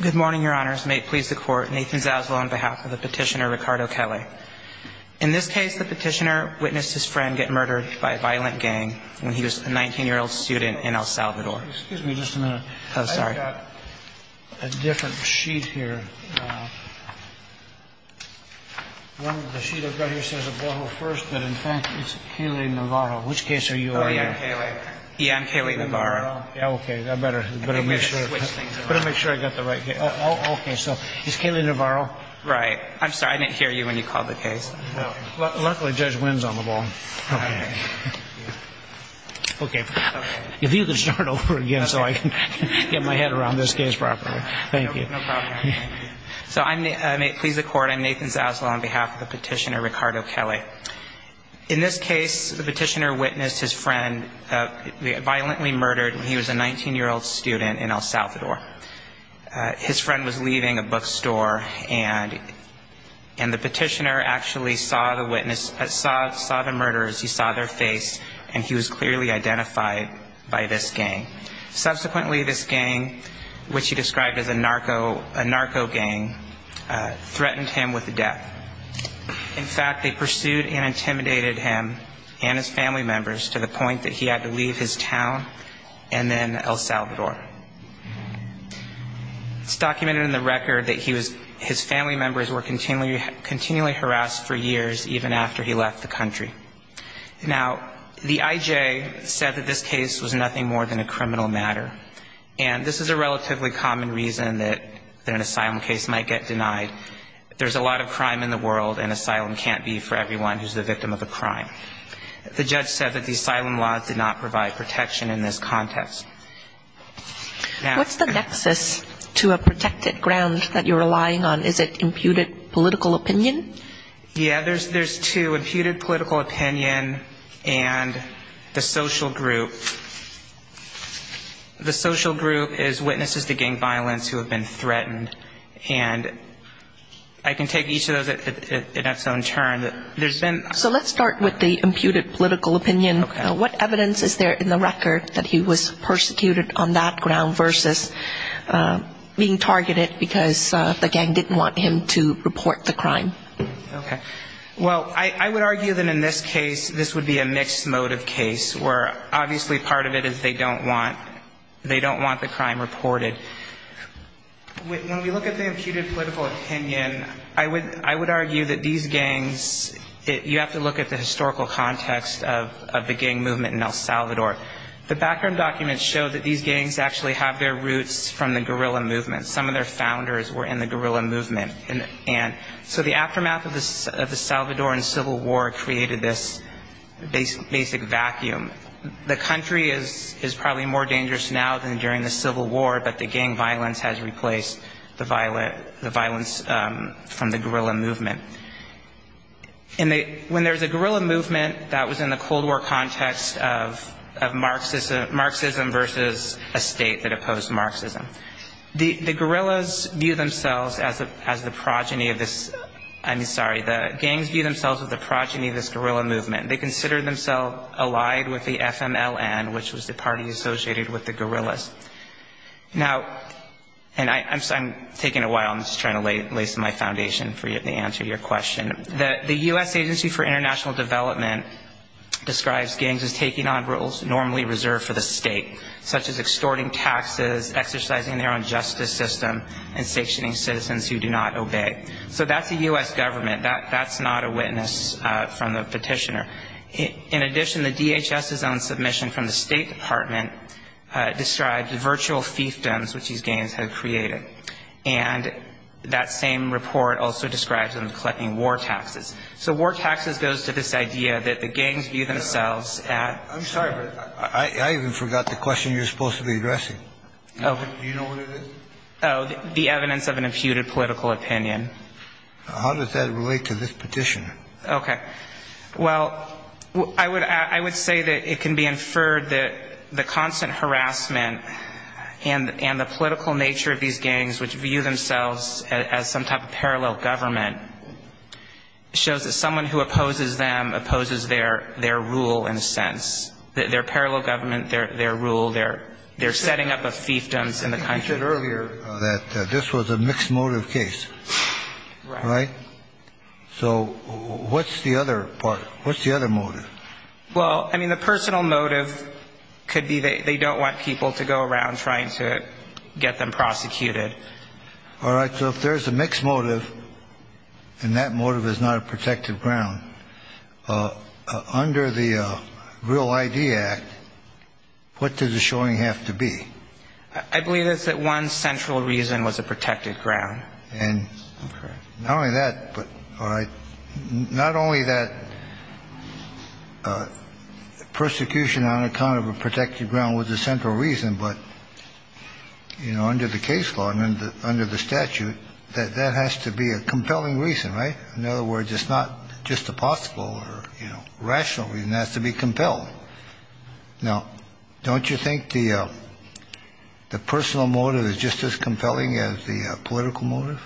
Good morning, Your Honors. May it please the Court, Nathan Zaslow on behalf of the petitioner Ricardo Quele. In this case, the petitioner witnessed his friend get murdered by a violent gang when he was a 19-year-old student in El Salvador. Excuse me just a minute. Oh, sorry. I've got a different sheet here. The sheet I've got here says Oboro first, but in fact it's Quele-Navarro. Which case are you on? Ian Quele-Navarro. Ian Quele-Navarro. Yeah, okay. I better make sure I've got the right case. Okay, so it's Quele-Navarro? Right. I'm sorry, I didn't hear you when you called the case. Luckily, Judge Wynn's on the phone. Okay. If you could start over again so I can get my head around this case properly. Thank you. No problem. So may it please the Court, I'm Nathan Zaslow on behalf of the petitioner Ricardo Quele. Okay. In this case, the petitioner witnessed his friend violently murdered when he was a 19-year-old student in El Salvador. His friend was leaving a bookstore, and the petitioner actually saw the witness, saw the murderers, he saw their face, and he was clearly identified by this gang. Subsequently, this gang, which he described as a narco gang, threatened him with death. In fact, they pursued and intimidated him and his family members to the point that he had to leave his town and then El Salvador. It's documented in the record that his family members were continually harassed for years, even after he left the country. Now, the IJ said that this case was nothing more than a criminal matter, and this is a relatively common reason that an asylum case might get denied. There's a lot of crime in the world, and asylum can't be for everyone who's the victim of a crime. The judge said that the asylum laws did not provide protection in this context. What's the nexus to a protected ground that you're relying on? Is it imputed political opinion? Yeah, there's two, imputed political opinion and the social group. The social group is witnesses to gang violence who have been threatened, and I can take each of those at its own turn. So let's start with the imputed political opinion. What evidence is there in the record that he was persecuted on that ground versus being targeted because the gang didn't want him to report the crime? Okay. Well, I would argue that in this case, this would be a mixed motive case, where obviously part of it is they don't want the crime reported. When we look at the imputed political opinion, I would argue that these gangs, you have to look at the historical context of the gang movement in El Salvador. The background documents show that these gangs actually have their roots from the guerrilla movement. Some of their founders were in the guerrilla movement. So the aftermath of the Salvadoran Civil War created this basic vacuum. The country is probably more dangerous now than during the Civil War, but the gang violence has replaced the violence from the guerrilla movement. When there's a guerrilla movement that was in the Cold War context of Marxism versus a state that opposed Marxism, the guerrillas view themselves as the progeny of this. I'm sorry. The gangs view themselves as the progeny of this guerrilla movement. They consider themselves allied with the FMLN, which was the party associated with the guerrillas. Now, and I'm taking a while. I'm just trying to lace my foundation for the answer to your question. The U.S. Agency for International Development describes gangs as taking on roles normally reserved for the state, such as extorting taxes, exercising their own justice system, and sanctioning citizens who do not obey. So that's the U.S. government. That's not a witness from the petitioner. In addition, the DHS's own submission from the State Department describes virtual fiefdoms which these gangs have created. And that same report also describes them collecting war taxes. So war taxes goes to this idea that the gangs view themselves as the progeny of this. That's the question you're supposed to be addressing. Do you know what it is? The evidence of an imputed political opinion. How does that relate to this petition? Okay. Well, I would say that it can be inferred that the constant harassment and the political nature of these gangs, which view themselves as some type of parallel government, shows that someone who opposes them opposes their rule in a sense. Their parallel government, their rule, their setting up of fiefdoms in the country. I think you said earlier that this was a mixed motive case. Right. Right? So what's the other part? What's the other motive? Well, I mean, the personal motive could be they don't want people to go around trying to get them prosecuted. All right. So if there's a mixed motive and that motive is not a protective ground, under the Real ID Act, what does the showing have to be? I believe it's that one central reason was a protected ground. And not only that, but not only that, persecution on account of a protected ground was a central reason, but under the case law and under the statute, that has to be a compelling reason. Right? In other words, it's not just a possible or rational reason. It has to be compelling. Now, don't you think the personal motive is just as compelling as the political motive?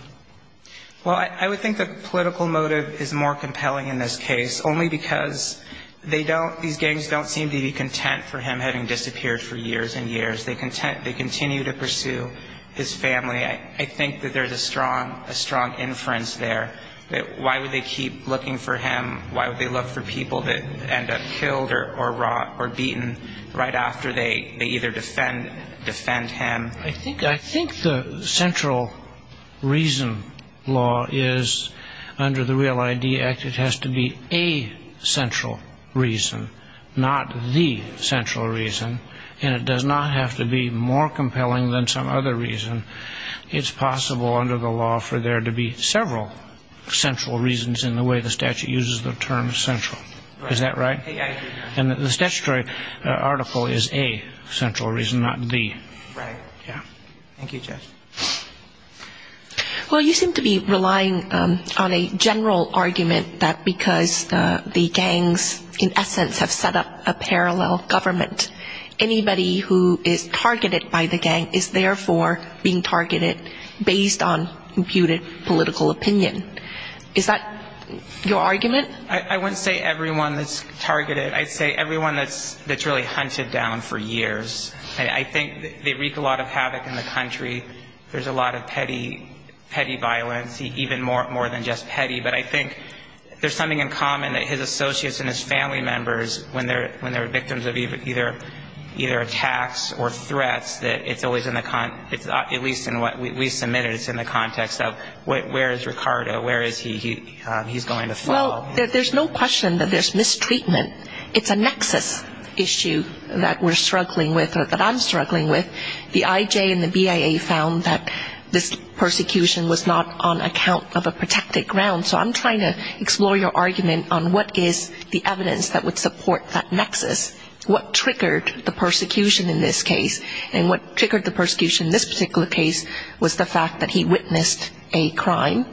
Well, I would think the political motive is more compelling in this case, only because they don't, these gangs don't seem to be content for him having disappeared for years and years. They continue to pursue his family. I think that there's a strong inference there that why would they keep looking for him? Why would they look for people that end up killed or beaten right after they either defend him? I think the central reason law is, under the Real ID Act, it has to be a central reason, not the central reason. And it does not have to be more compelling than some other reason. It's possible under the law for there to be several central reasons in the way the statute uses the term central. Is that right? And the statutory article is a central reason, not the. Right. Yeah. Thank you, Judge. Well, you seem to be relying on a general argument that because the gangs, in essence, have set up a parallel government, anybody who is targeted by the gang is therefore being targeted based on computed political opinion. Is that your argument? I wouldn't say everyone that's targeted. I'd say everyone that's really hunted down for years. I think they wreak a lot of havoc in the country. There's a lot of petty violence, even more than just petty. But I think there's something in common that his associates and his family members, when they're victims of either attacks or threats, that it's always in the context, at least in what we submitted, it's in the context of where is Ricardo, where is he, he's going to follow. Well, there's no question that there's mistreatment. It's a nexus issue that we're struggling with or that I'm struggling with. The IJ and the BIA found that this persecution was not on account of a protected ground. So I'm trying to explore your argument on what is the evidence that would support that nexus. What triggered the persecution in this case? And what triggered the persecution in this particular case was the fact that he witnessed a crime,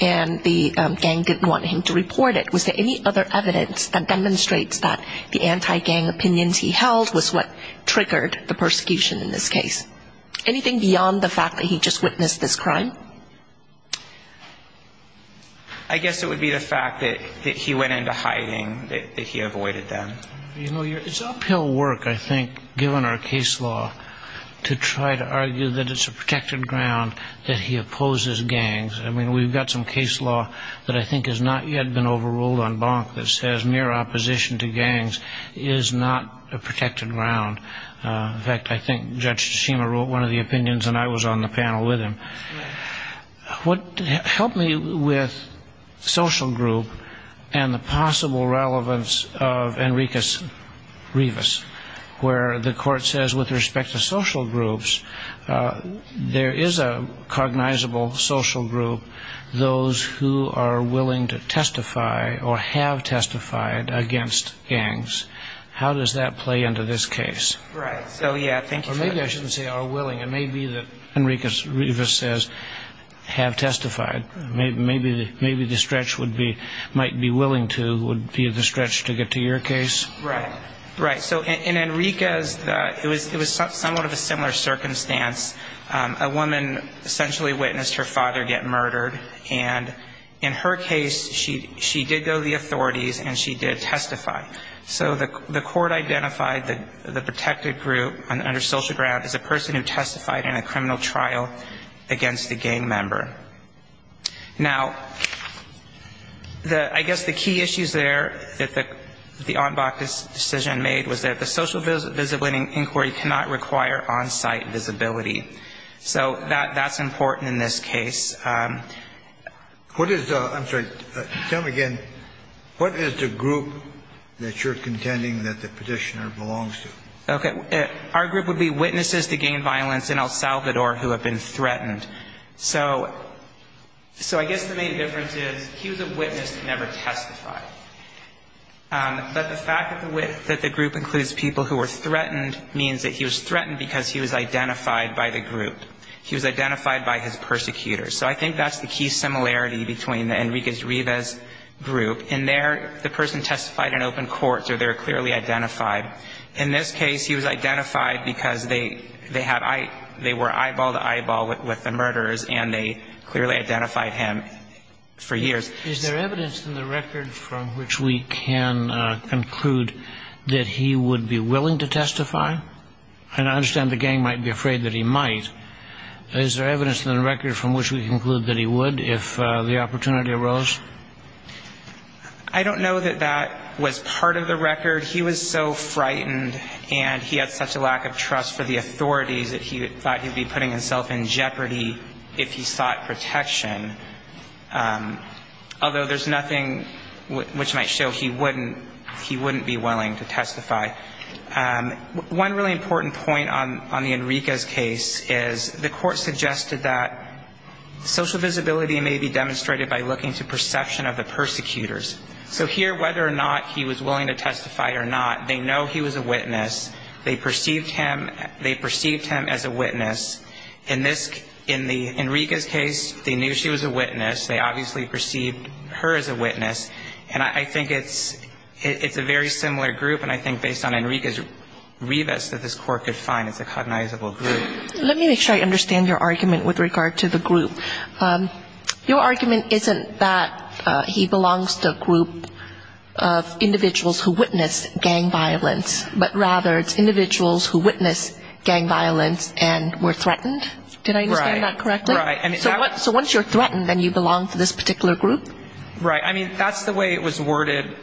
and the gang didn't want him to report it. Was there any other evidence that demonstrates that the anti-gang opinions he held was what triggered the persecution in this case? Anything beyond the fact that he just witnessed this crime? I guess it would be the fact that he went into hiding, that he avoided them. You know, it's uphill work, I think, given our case law, to try to argue that it's a protected ground, that he opposes gangs. I mean, we've got some case law that I think has not yet been overruled on Bonk that says mere opposition to gangs is not a protected ground. In fact, I think Judge Shima wrote one of the opinions, and I was on the panel with him. What helped me with social group and the possible relevance of Enricus Rivas, where the court says with respect to social groups, there is a cognizable social group, those who are willing to testify or have testified against gangs. How does that play into this case? Right. So, yeah, thank you for that. Or maybe I shouldn't say are willing. It may be that Enricus Rivas says have testified. Maybe the stretch would be might be willing to would be the stretch to get to your case. Right. Right. So in Enricus, it was somewhat of a similar circumstance. A woman essentially witnessed her father get murdered. And in her case, she did go to the authorities and she did testify. So the court identified the protected group under social ground as a person who testified in a criminal trial against a gang member. Now, I guess the key issues there that the Ombak decision made was that the social visibility inquiry cannot require on-site visibility. So that's important in this case. I'm sorry. Tell me again. What is the group that you're contending that the petitioner belongs to? Okay. Our group would be witnesses to gang violence in El Salvador who have been threatened. So I guess the main difference is he was a witness and never testified. But the fact that the group includes people who were threatened means that he was threatened because he was identified by the group. He was identified by his persecutors. So I think that's the key similarity between Enricus Rivas' group. In there, the person testified in open court, so they're clearly identified. In this case, he was identified because they were eyeball to eyeball with the murderers and they clearly identified him for years. Is there evidence in the record from which we can conclude that he would be willing to testify? And I understand the gang might be afraid that he might. Is there evidence in the record from which we conclude that he would if the opportunity arose? I don't know that that was part of the record. He was so frightened and he had such a lack of trust for the authorities that he thought he'd be putting himself in jeopardy if he sought protection. Although there's nothing which might show he wouldn't be willing to testify. One really important point on the Enricus case is the court suggested that social visibility may be demonstrated by looking to perception of the persecutors. So here, whether or not he was willing to testify or not, they know he was a witness. They perceived him as a witness. In the Enricus case, they knew she was a witness. They obviously perceived her as a witness. And I think it's a very similar group, and I think based on Enricus Rivas, that this court could find it's a cognizable group. Let me make sure I understand your argument with regard to the group. Your argument isn't that he belongs to a group of individuals who witnessed gang violence, but rather it's individuals who witnessed gang violence and were threatened. Did I understand that correctly? Right. So once you're threatened, then you belong to this particular group? Right. I mean, that's the way it was worded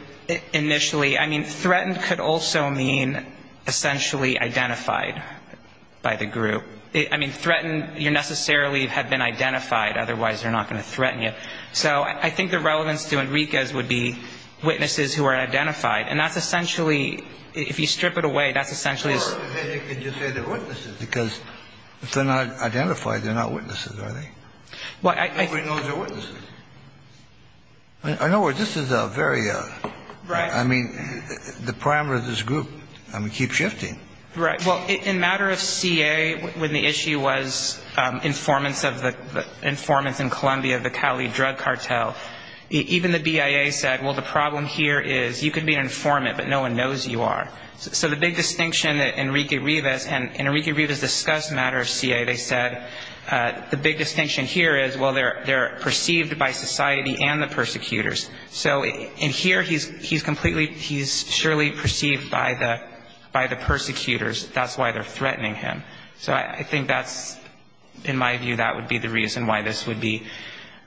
initially. I mean, threatened could also mean essentially identified by the group. I mean, threatened, you necessarily have been identified. Otherwise, they're not going to threaten you. So I think the relevance to Enricus would be witnesses who are identified. And that's essentially, if you strip it away, that's essentially. Or you could just say they're witnesses, because if they're not identified, they're not witnesses, are they? Well, I. Nobody knows they're witnesses. In other words, this is a very, I mean, the parameters of this group keep shifting. Right. Well, in matter of CA, when the issue was informants in Colombia, the Cali drug cartel, even the BIA said, well, the problem here is you could be an informant, but no one knows you are. So the big distinction that Enrique Rivas, and Enrique Rivas discussed matter of CA, they said the big distinction here is, well, they're perceived by society and the persecutors. So in here, he's completely, he's surely perceived by the persecutors. That's why they're threatening him. So I think that's, in my view, that would be the reason why this would be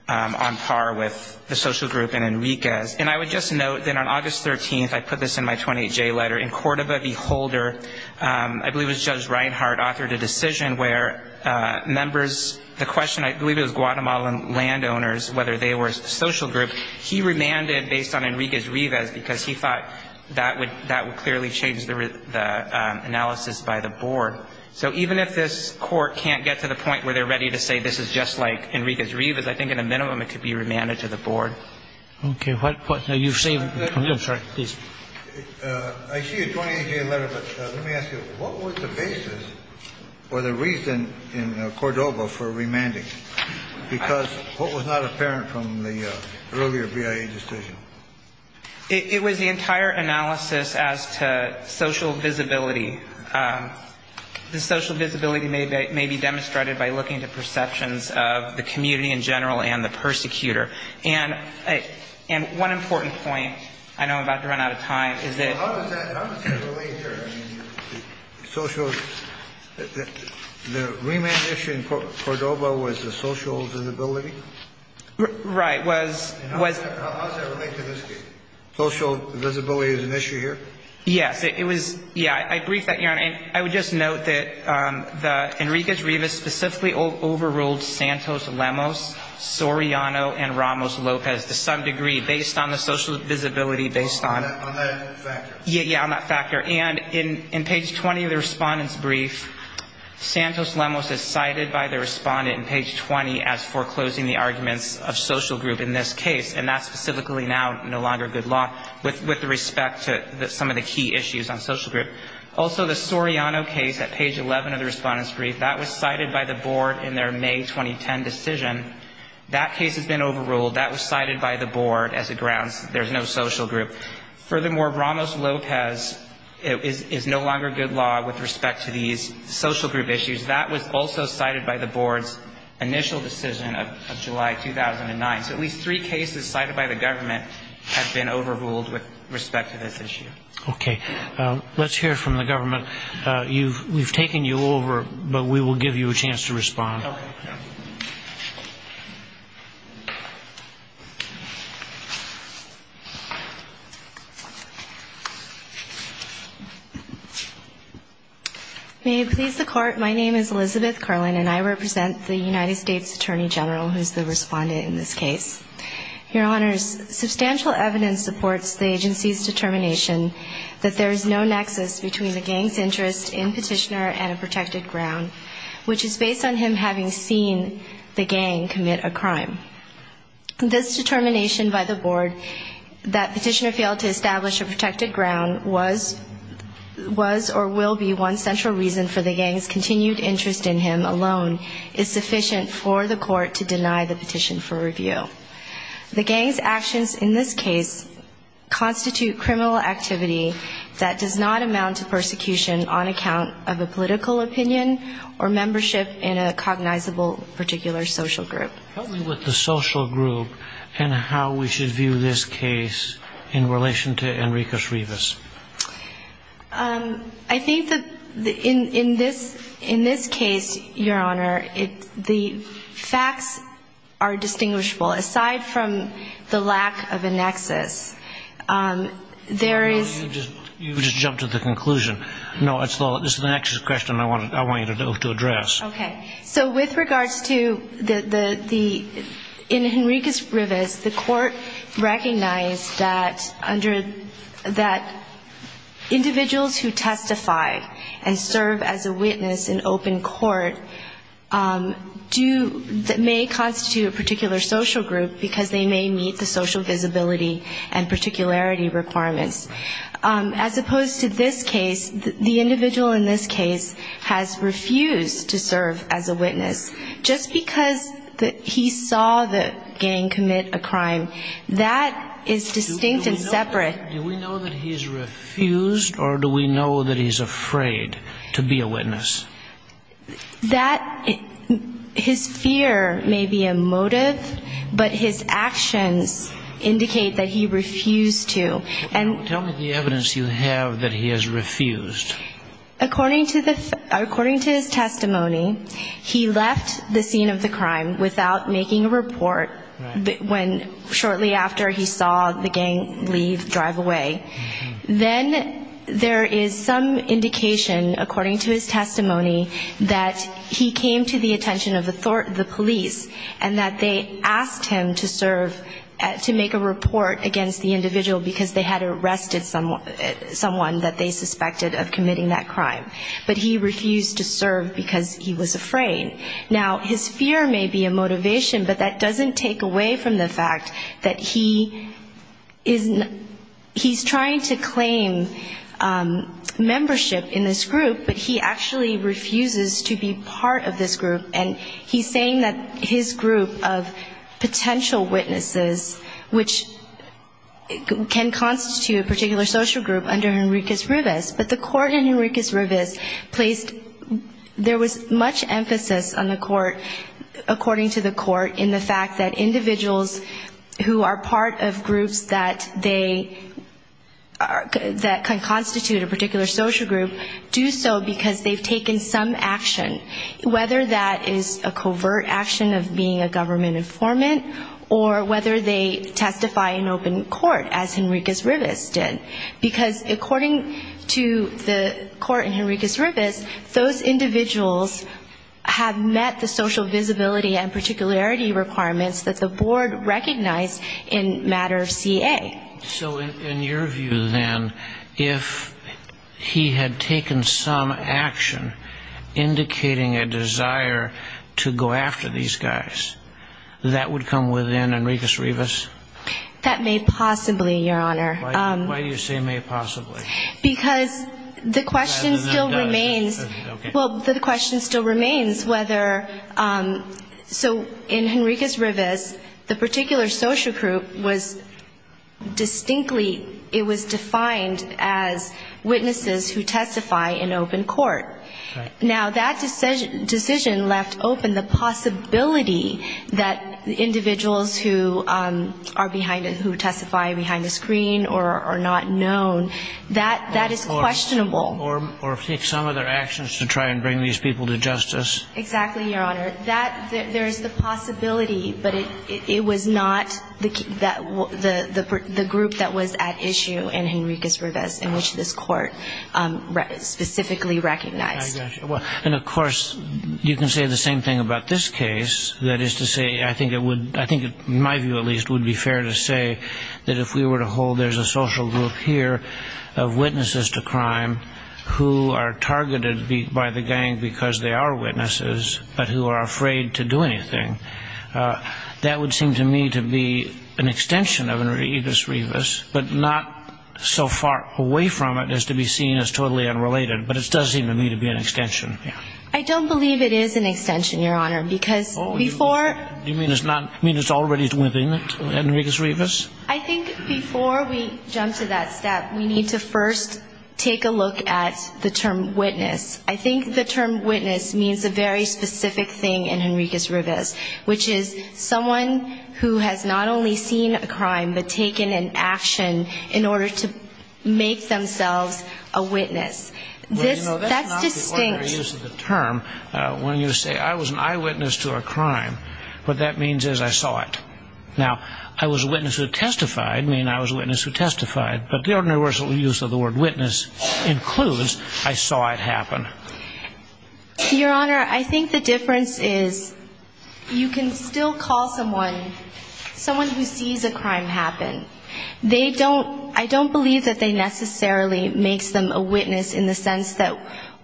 on par with the social group and Enrique's. And I would just note that on August 13th, I put this in my 28J letter, in Cordoba, Beholder, I believe it was Judge Reinhart, authored a decision where members, the question, I believe it was Guatemalan landowners, whether they were a social group. He remanded based on Enrique's Rivas because he thought that would clearly change the analysis by the board. So even if this court can't get to the point where they're ready to say this is just like Enrique's Rivas, I think in a minimum it could be remanded to the board. Okay. You've saved, I'm sorry. Please. I see your 28J letter, but let me ask you, what was the basis or the reason in Cordoba for remanding? Because what was not apparent from the earlier BIA decision? It was the entire analysis as to social visibility. The social visibility may be demonstrated by looking to perceptions of the community in general and the persecutor. And one important point, I know I'm about to run out of time, is that... The remand issue in Cordoba was the social visibility? Right. Was... How does that relate to this case? Social visibility is an issue here? Yes. It was, yeah, I briefed that here. And I would just note that Enrique's Rivas specifically overruled Santos Lemos, Soriano, and Ramos Lopez to some degree based on the social visibility, based on... On that factor. Yeah, yeah, on that factor. And in page 20 of the respondent's brief, Santos Lemos is cited by the respondent in page 20 as foreclosing the arguments of social group in this case. And that's specifically now no longer good law with respect to some of the key issues on social group. Also, the Soriano case at page 11 of the respondent's brief, that was cited by the board in their May 2010 decision. That case has been overruled. That was cited by the board as a grounds that there's no social group. Furthermore, Ramos Lopez is no longer good law with respect to these social group issues. That was also cited by the board's initial decision of July 2009. So at least three cases cited by the government have been overruled with respect to this issue. Okay. Let's hear from the government. We've taken you over, but we will give you a chance to respond. Okay. May it please the Court, my name is Elizabeth Curlin, and I represent the United States Attorney General, who's the respondent in this case. Your Honors, substantial evidence supports the agency's determination that there is no nexus between the gang's interest in Petitioner and a protected ground, which is based on him having seen the gang's interest in Petitioner. This determination by the board, that Petitioner failed to establish a protected ground, was or will be one central reason for the gang's continued interest in him alone, is sufficient for the Court to deny the petition for review. The gang's actions in this case constitute criminal activity that does not amount to persecution on account of a political opinion or membership in a cognizable particular social group. Tell me what the social group and how we should view this case in relation to Enriquez-Rivas. I think that in this case, Your Honor, the facts are distinguishable. Aside from the lack of a nexus, there is no nexus. You just jumped to the conclusion. No, this is the nexus question I want you to address. Okay. So with regards to the ‑‑ in Enriquez-Rivas, the Court recognized that individuals who testify and serve as a witness in open court may constitute a particular social group because they may meet the social visibility and particularity requirements. As opposed to this case, the individual in this case has refused to serve as a witness. Just because he saw the gang commit a crime, that is distinct and separate. Do we know that he's refused or do we know that he's afraid to be a witness? That ‑‑ his fear may be a motive, but his actions indicate that he refused to. Tell me the evidence you have that he has refused. According to his testimony, he left the scene of the crime without making a report shortly after he saw the gang leave, drive away. Then there is some indication, according to his testimony, that he came to the attention of the police and that they asked him to serve to make a report against the individual because they had arrested someone that they suspected of committing that crime. But he refused to serve because he was afraid. Now, his fear may be a motivation, but that doesn't take away from the fact that he is ‑‑ he's trying to claim membership in this group, but he actually refuses to be part of this group. And he's saying that his group of potential witnesses, which can constitute a particular social group under Henriquez-Rivas, but the court in Henriquez-Rivas placed ‑‑ there was much emphasis on the court, according to the court, in the fact that individuals who are part of groups that they ‑‑ that can constitute a particular social group do so because they've taken some action. Whether that is a covert action of being a government informant or whether they testify in open court, as Henriquez-Rivas did. Because according to the court in Henriquez-Rivas, those individuals have met the social visibility and particularity requirements that the board recognized in matter C.A. So in your view, then, if he had taken some action indicating a desire to go after these guys, that would come within Henriquez-Rivas? That may possibly, Your Honor. Why do you say may possibly? Because the question still remains. Well, the question still remains whether ‑‑ so in Henriquez-Rivas, the particular social group was the social group, but distinctly it was defined as witnesses who testify in open court. Now, that decision left open the possibility that individuals who are behind ‑‑ who testify behind the screen or are not known, that is questionable. Or take some of their actions to try and bring these people to justice? Exactly, Your Honor. There is the possibility, but it was not the group that was at issue in Henriquez-Rivas in which this court specifically recognized. I got you. And, of course, you can say the same thing about this case. That is to say, I think it would, in my view at least, would be fair to say that if we were to hold there's a social group here of witnesses to crime who are targeted by the gang because they are witnesses, but who are also witnesses. And they are afraid to do anything. That would seem to me to be an extension of Henriquez-Rivas, but not so far away from it as to be seen as totally unrelated. But it does seem to me to be an extension. I don't believe it is an extension, Your Honor, because before ‑‑ Do you mean it's already within Henriquez-Rivas? I think before we jump to that step, we need to first take a look at the term witness. I think the term witness means a very specific thing in Henriquez-Rivas, which is someone who has not only seen a crime, but taken an action in order to make themselves a witness. That's distinct. Well, you know, that's not the ordinary use of the term when you say I was an eyewitness to a crime. What that means is I saw it. Now, I was a witness who testified, meaning I was a witness who testified. But the universal use of the word witness includes I saw it happen. Your Honor, I think the difference is you can still call someone, someone who sees a crime, happen. They don't ‑‑ I don't believe that they necessarily makes them a witness in the sense that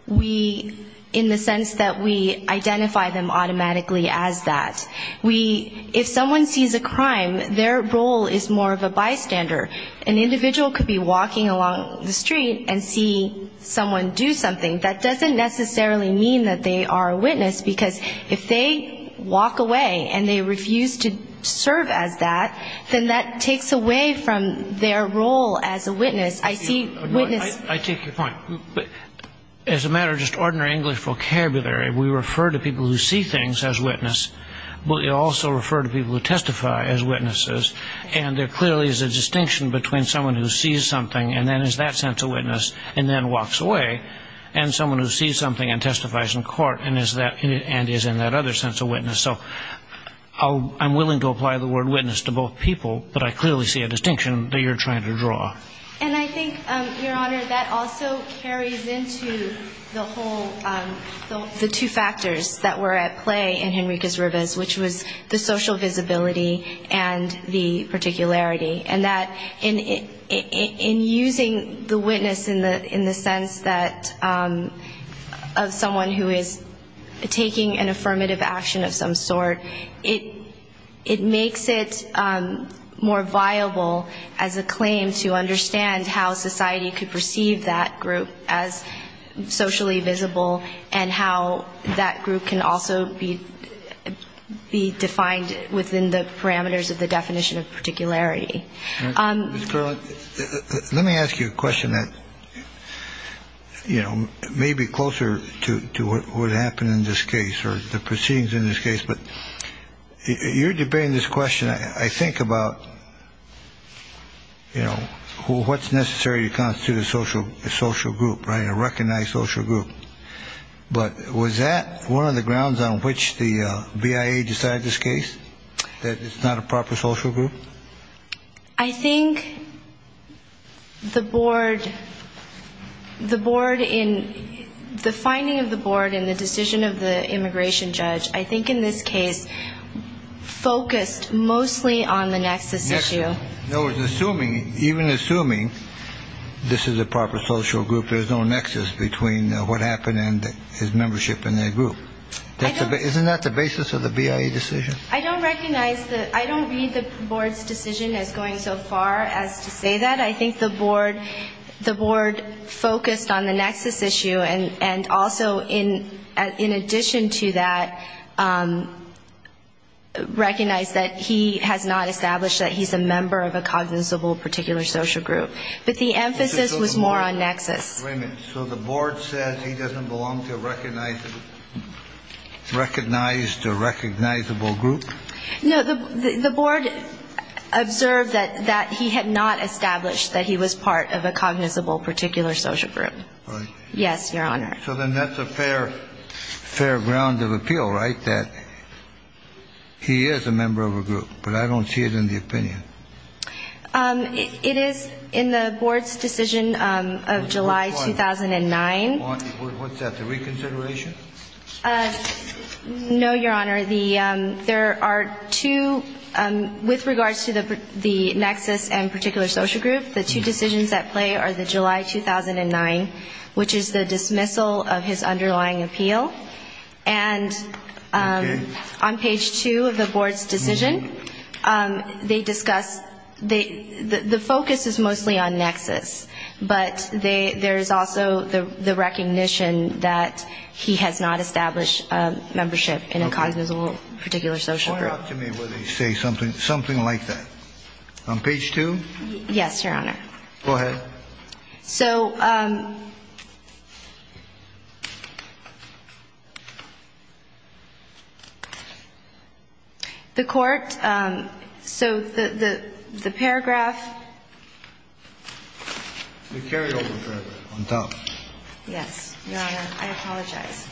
we ‑‑ in the sense that we identify them automatically as that. We ‑‑ if someone sees a crime, their role is more of a bystander. An individual could be walking along the street and see someone do something. That doesn't necessarily mean that they are a witness, because if they walk away and they refuse to serve as that, then that takes away from their role as a witness. I see witness ‑‑ I take your point. As a matter of just ordinary English vocabulary, we refer to people who see things as witness, but we also refer to people who testify as witnesses. And there clearly is a distinction between someone who sees something and then is that sense of witness and then walks away, and someone who sees something and testifies in court and is that ‑‑ and is in that other sense of witness. So I'm willing to apply the word witness to both people, but I clearly see a distinction that you're trying to draw. And I think, Your Honor, that also carries into the whole ‑‑ the two factors that were at play in Henrique's Rubis, which was the social visibility and the fact that he was a witness. And that in using the witness in the sense that ‑‑ of someone who is taking an affirmative action of some sort, it makes it more viable as a claim to understand how society could perceive that group as socially visible and how that group can also be defined within the parameters of the definition of witness. So I'm willing to apply the word witness to both people, but I clearly see a distinction that you're trying to draw. And I think, Your Honor, that also carries into the whole whole issue of social visibility and the fact that he was a witness. And that in using the witness in the sense that someone who is taking an affirmative action of some sort, it makes it more viable as a claim to understand how society could perceive that group as socially visible and how that group can also be defined within the parameters of the definition of witness. I think the board ‑‑ the board in ‑‑ the finding of the board in the decision of the immigration judge, I think in this case, focused mostly on the nexus issue. Even assuming this is a proper social group, there's no nexus between what happened and his membership in that group. Isn't that the basis of the BIA decision? I don't recognize the ‑‑ I don't read the board's decision as going so far as to say that. I think the board ‑‑ the board focused on the nexus issue and also in addition to that, recognized that he has not established that he's a member of a cognizable particular social group. But the emphasis was more on nexus. Wait a minute. So the board says he doesn't belong to a recognizable ‑‑ recognized or recognizable group? No, the board observed that he had not established that he was part of a cognizable particular social group. Right. Yes, Your Honor. So then that's a fair ‑‑ fair ground of appeal, right? That he is a member of a group, but I don't see it in the opinion. It is in the board's decision of July 2009. What's that, the reconsideration? No, Your Honor. There are two ‑‑ with regards to the nexus and particular social group, the two decisions at play are the July 2009, which is the dismissal of his underlying appeal. And on page two of the board's decision, they discuss ‑‑ the focus is mostly on nexus, but there is also the recognition that he has not established a membership in a cognizable particular social group. Point out to me where they say something like that. On page two? Yes, Your Honor. Go ahead. So the court ‑‑ so the paragraph ‑‑ The carryover paragraph on top. Yes, Your Honor. I apologize.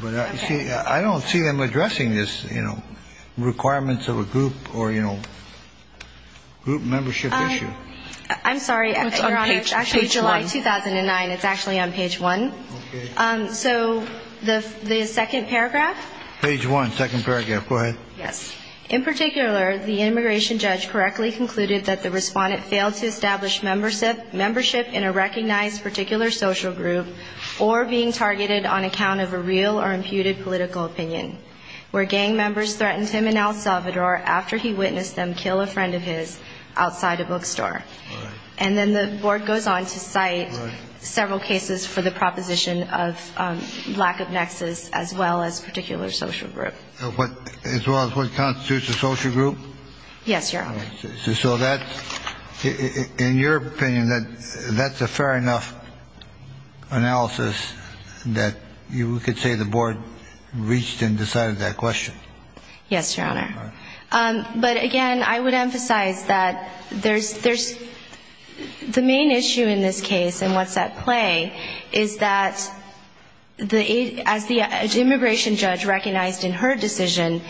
But I don't see them addressing this, you know, requirements of a group or, you know, group membership issue. I'm sorry, Your Honor. It's actually July 2009. It's actually on page one. So the second paragraph? Page one, second paragraph. Go ahead. Yes. So the court has made several cases for the proposition of lack of nexus as well as particular social group. As well as what constitutes a social group? Yes, Your Honor. So that's ‑‑ in your opinion, that's a fair enough analysis that you could say the board reached and decided that question. Yes, Your Honor. But again, I would emphasize that there's ‑‑ the main issue in this case and what's at play is that as the immigration judge recognized in her decision,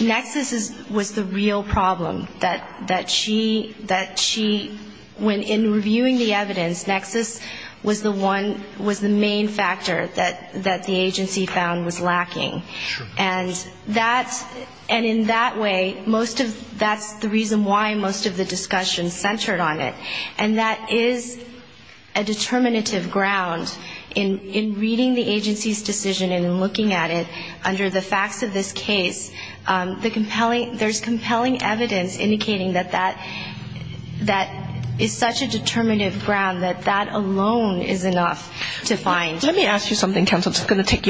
nexus was the real problem, that she ‑‑ when in reviewing the evidence, nexus was the one ‑‑ was the main factor that the agency found was lacking. And that's ‑‑ and in that way, most of ‑‑ that's the reason why most of the discussion centered on it. And that is a determinative ground in reading the agency's decision and looking at it under the facts of this case. The compelling ‑‑ there's compelling evidence indicating that that is such a determinative ground that that alone is enough to determine whether or not there's a nexus. Thank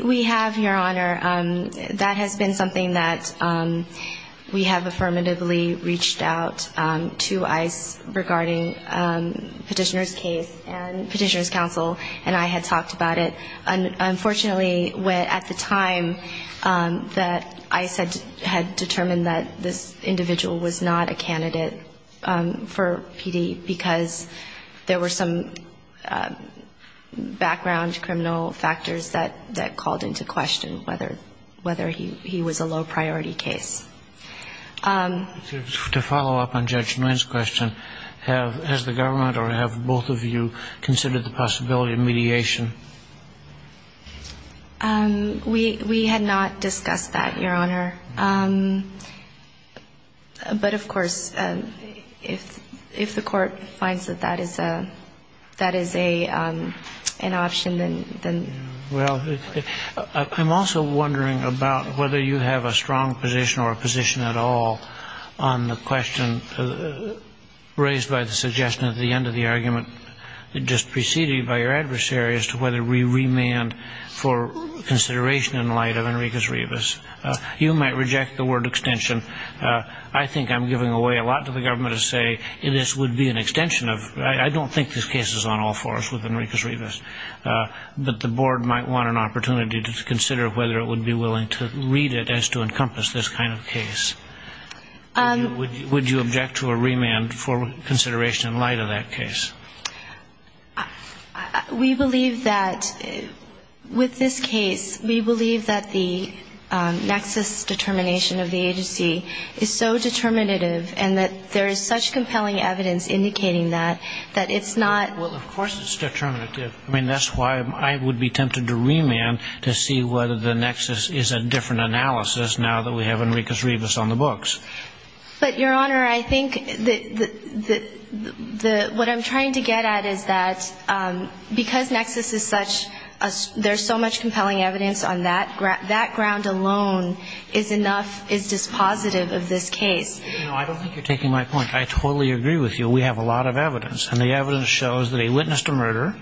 you. We have, Your Honor, that has been something that we have affirmatively reached out to ICE regarding petitioner's case and petitioner's counsel, and I had talked about it. Unfortunately, at the time that ICE had determined that this individual was not a candidate for PD because there were some background criminal factors that called into question whether he was a low-priority case. To follow up on Judge Nguyen's question, has the government or have both of you considered the possibility of mediation? We had not discussed that, Your Honor. But, of course, if the court finds that that is a ‑‑ that is an option, then ‑‑ Well, I'm also wondering about whether you have a strong position or a position at all on the question raised by the suggestion at the end of the argument just preceded by your adversary as to whether we remand the petitioner's case to a remand for consideration in light of Enriquez-Rivas. You might reject the word extension. I think I'm giving away a lot to the government to say this would be an extension of ‑‑ I don't think this case is on all fours with Enriquez-Rivas, but the board might want an opportunity to consider whether it would be willing to read it as to encompass this kind of case. Would you object to a remand for consideration in light of that case? With this case, we believe that the nexus determination of the agency is so determinative and that there is such compelling evidence indicating that, that it's not ‑‑ Well, of course it's determinative. I mean, that's why I would be tempted to remand to see whether the nexus is a different analysis now that we have Enriquez-Rivas on the books. But, Your Honor, I think what I'm trying to get at is that because nexus is such ‑‑ there's so much compelling evidence on that, that ground alone is enough, is dispositive of this case. You know, I don't think you're taking my point. I totally agree with you. We have a lot of evidence. And the evidence shows that he witnessed a murder,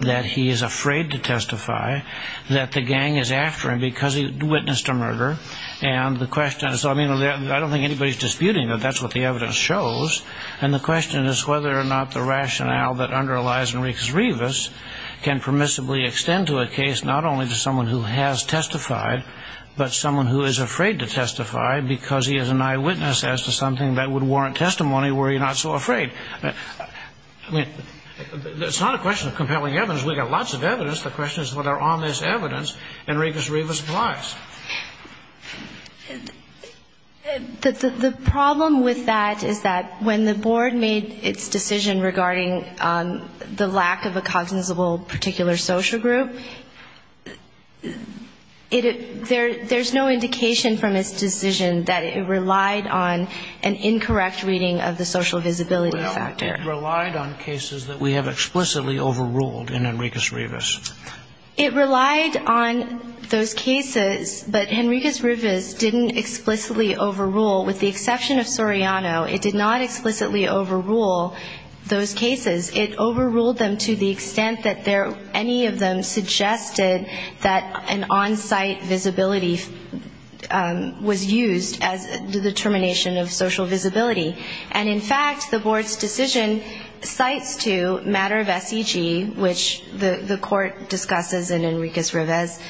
that he is afraid to testify, that the gang is after him because he witnessed a murder. And the question is, I mean, I don't think anybody is disputing that that's what the evidence shows. And the question is whether or not the rationale that underlies Enriquez-Rivas can permissibly extend to a case not only to someone who has testified, but someone who is afraid to testify because he is an eyewitness as to something that would warrant testimony were he not so afraid. I mean, it's not a question of compelling evidence. We've got lots of evidence. The question is whether on this evidence Enriquez-Rivas lies. The problem with that is that when the board made its decision regarding the lack of a cognizable particular social group, there's no indication from its decision that it relied on an incorrect reading of the social visibility factor. It relied on cases that we have explicitly overruled in Enriquez-Rivas. It relied on those cases, but Enriquez-Rivas didn't explicitly overrule. With the exception of Soriano, it did not explicitly overrule those cases. It overruled them to the extent that any of them suggested that an on-site visibility was used as the determination of social visibility. And, in fact, the board's decision cites to matter of SEG, which the court discusses in Enriquez-Rivas,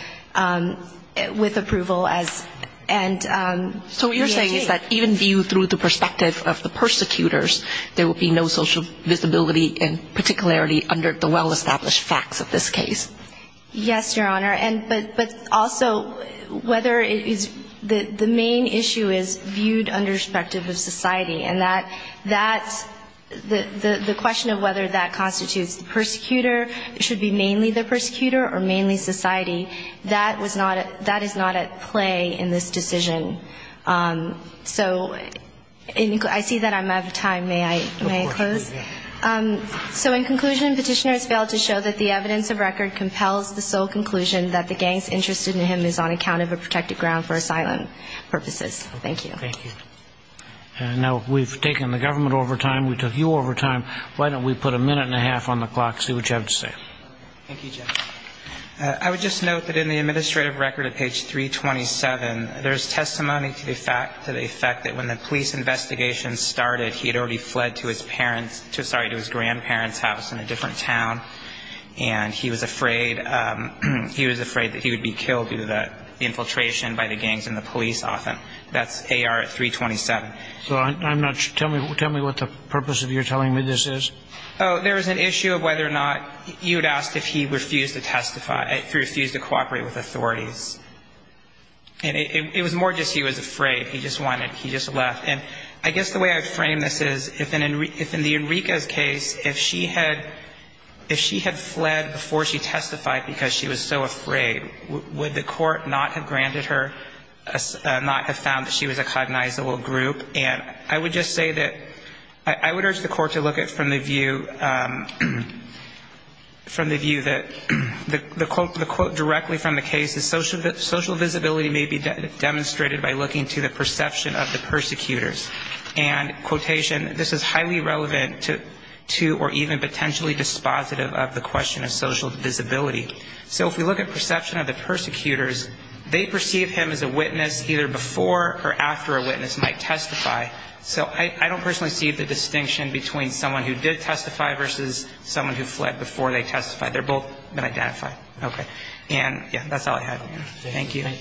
with approval as, and the SEG. So what you're saying is that even viewed through the perspective of the persecutors, there would be no social visibility, and particularly under the well-established facts of this case. Yes, Your Honor, but also whether it is the main issue is viewed under perspective of society. And that's the question of whether that constitutes the persecutor, it should be mainly the persecutor or mainly society. That is not at play in this decision. So I see that I'm out of time. May I close? So in conclusion, Petitioner has failed to show that the evidence of record compels the sole conclusion that the gang's interest in him is on account of a protected ground for asylum purposes. Thank you. And now we've taken the government over time, we took you over time, why don't we put a minute and a half on the clock, see what you have to say. Thank you, Judge. I would just note that in the administrative record at page 327, there's testimony to the fact that when the police investigation started, he had already fled to his parents, sorry, to his grandparents' house in a different town, and he was afraid that he would be killed due to the infiltration by the gangs and the police often. That's AR at 327. So I'm not sure, tell me what the purpose of your telling me this is. Oh, there is an issue of whether or not, you had asked if he refused to testify, if he refused to cooperate with authorities. And it was more just he was afraid, he just wanted, he just left. And I guess the way I frame this is, if in the Enriquez case, if she had fled before she testified because she was so afraid, would the court not have granted her, not have found that she was a cognizable group? And I would just say that, I would urge the court to look at from the view, from the view that, the quote directly from the case is, social visibility may be demonstrated by looking to the perception of the persecutors. And quotation, this is highly relevant to or even potentially dispositive of the question of social visibility. So if we look at perception of the persecutors, they perceive him as a witness either before or after a witness might testify. So I don't personally see the distinction between someone who did testify versus someone who fled before they testified. They're both been identified. Okay. And yeah, that's all I have. Thank you.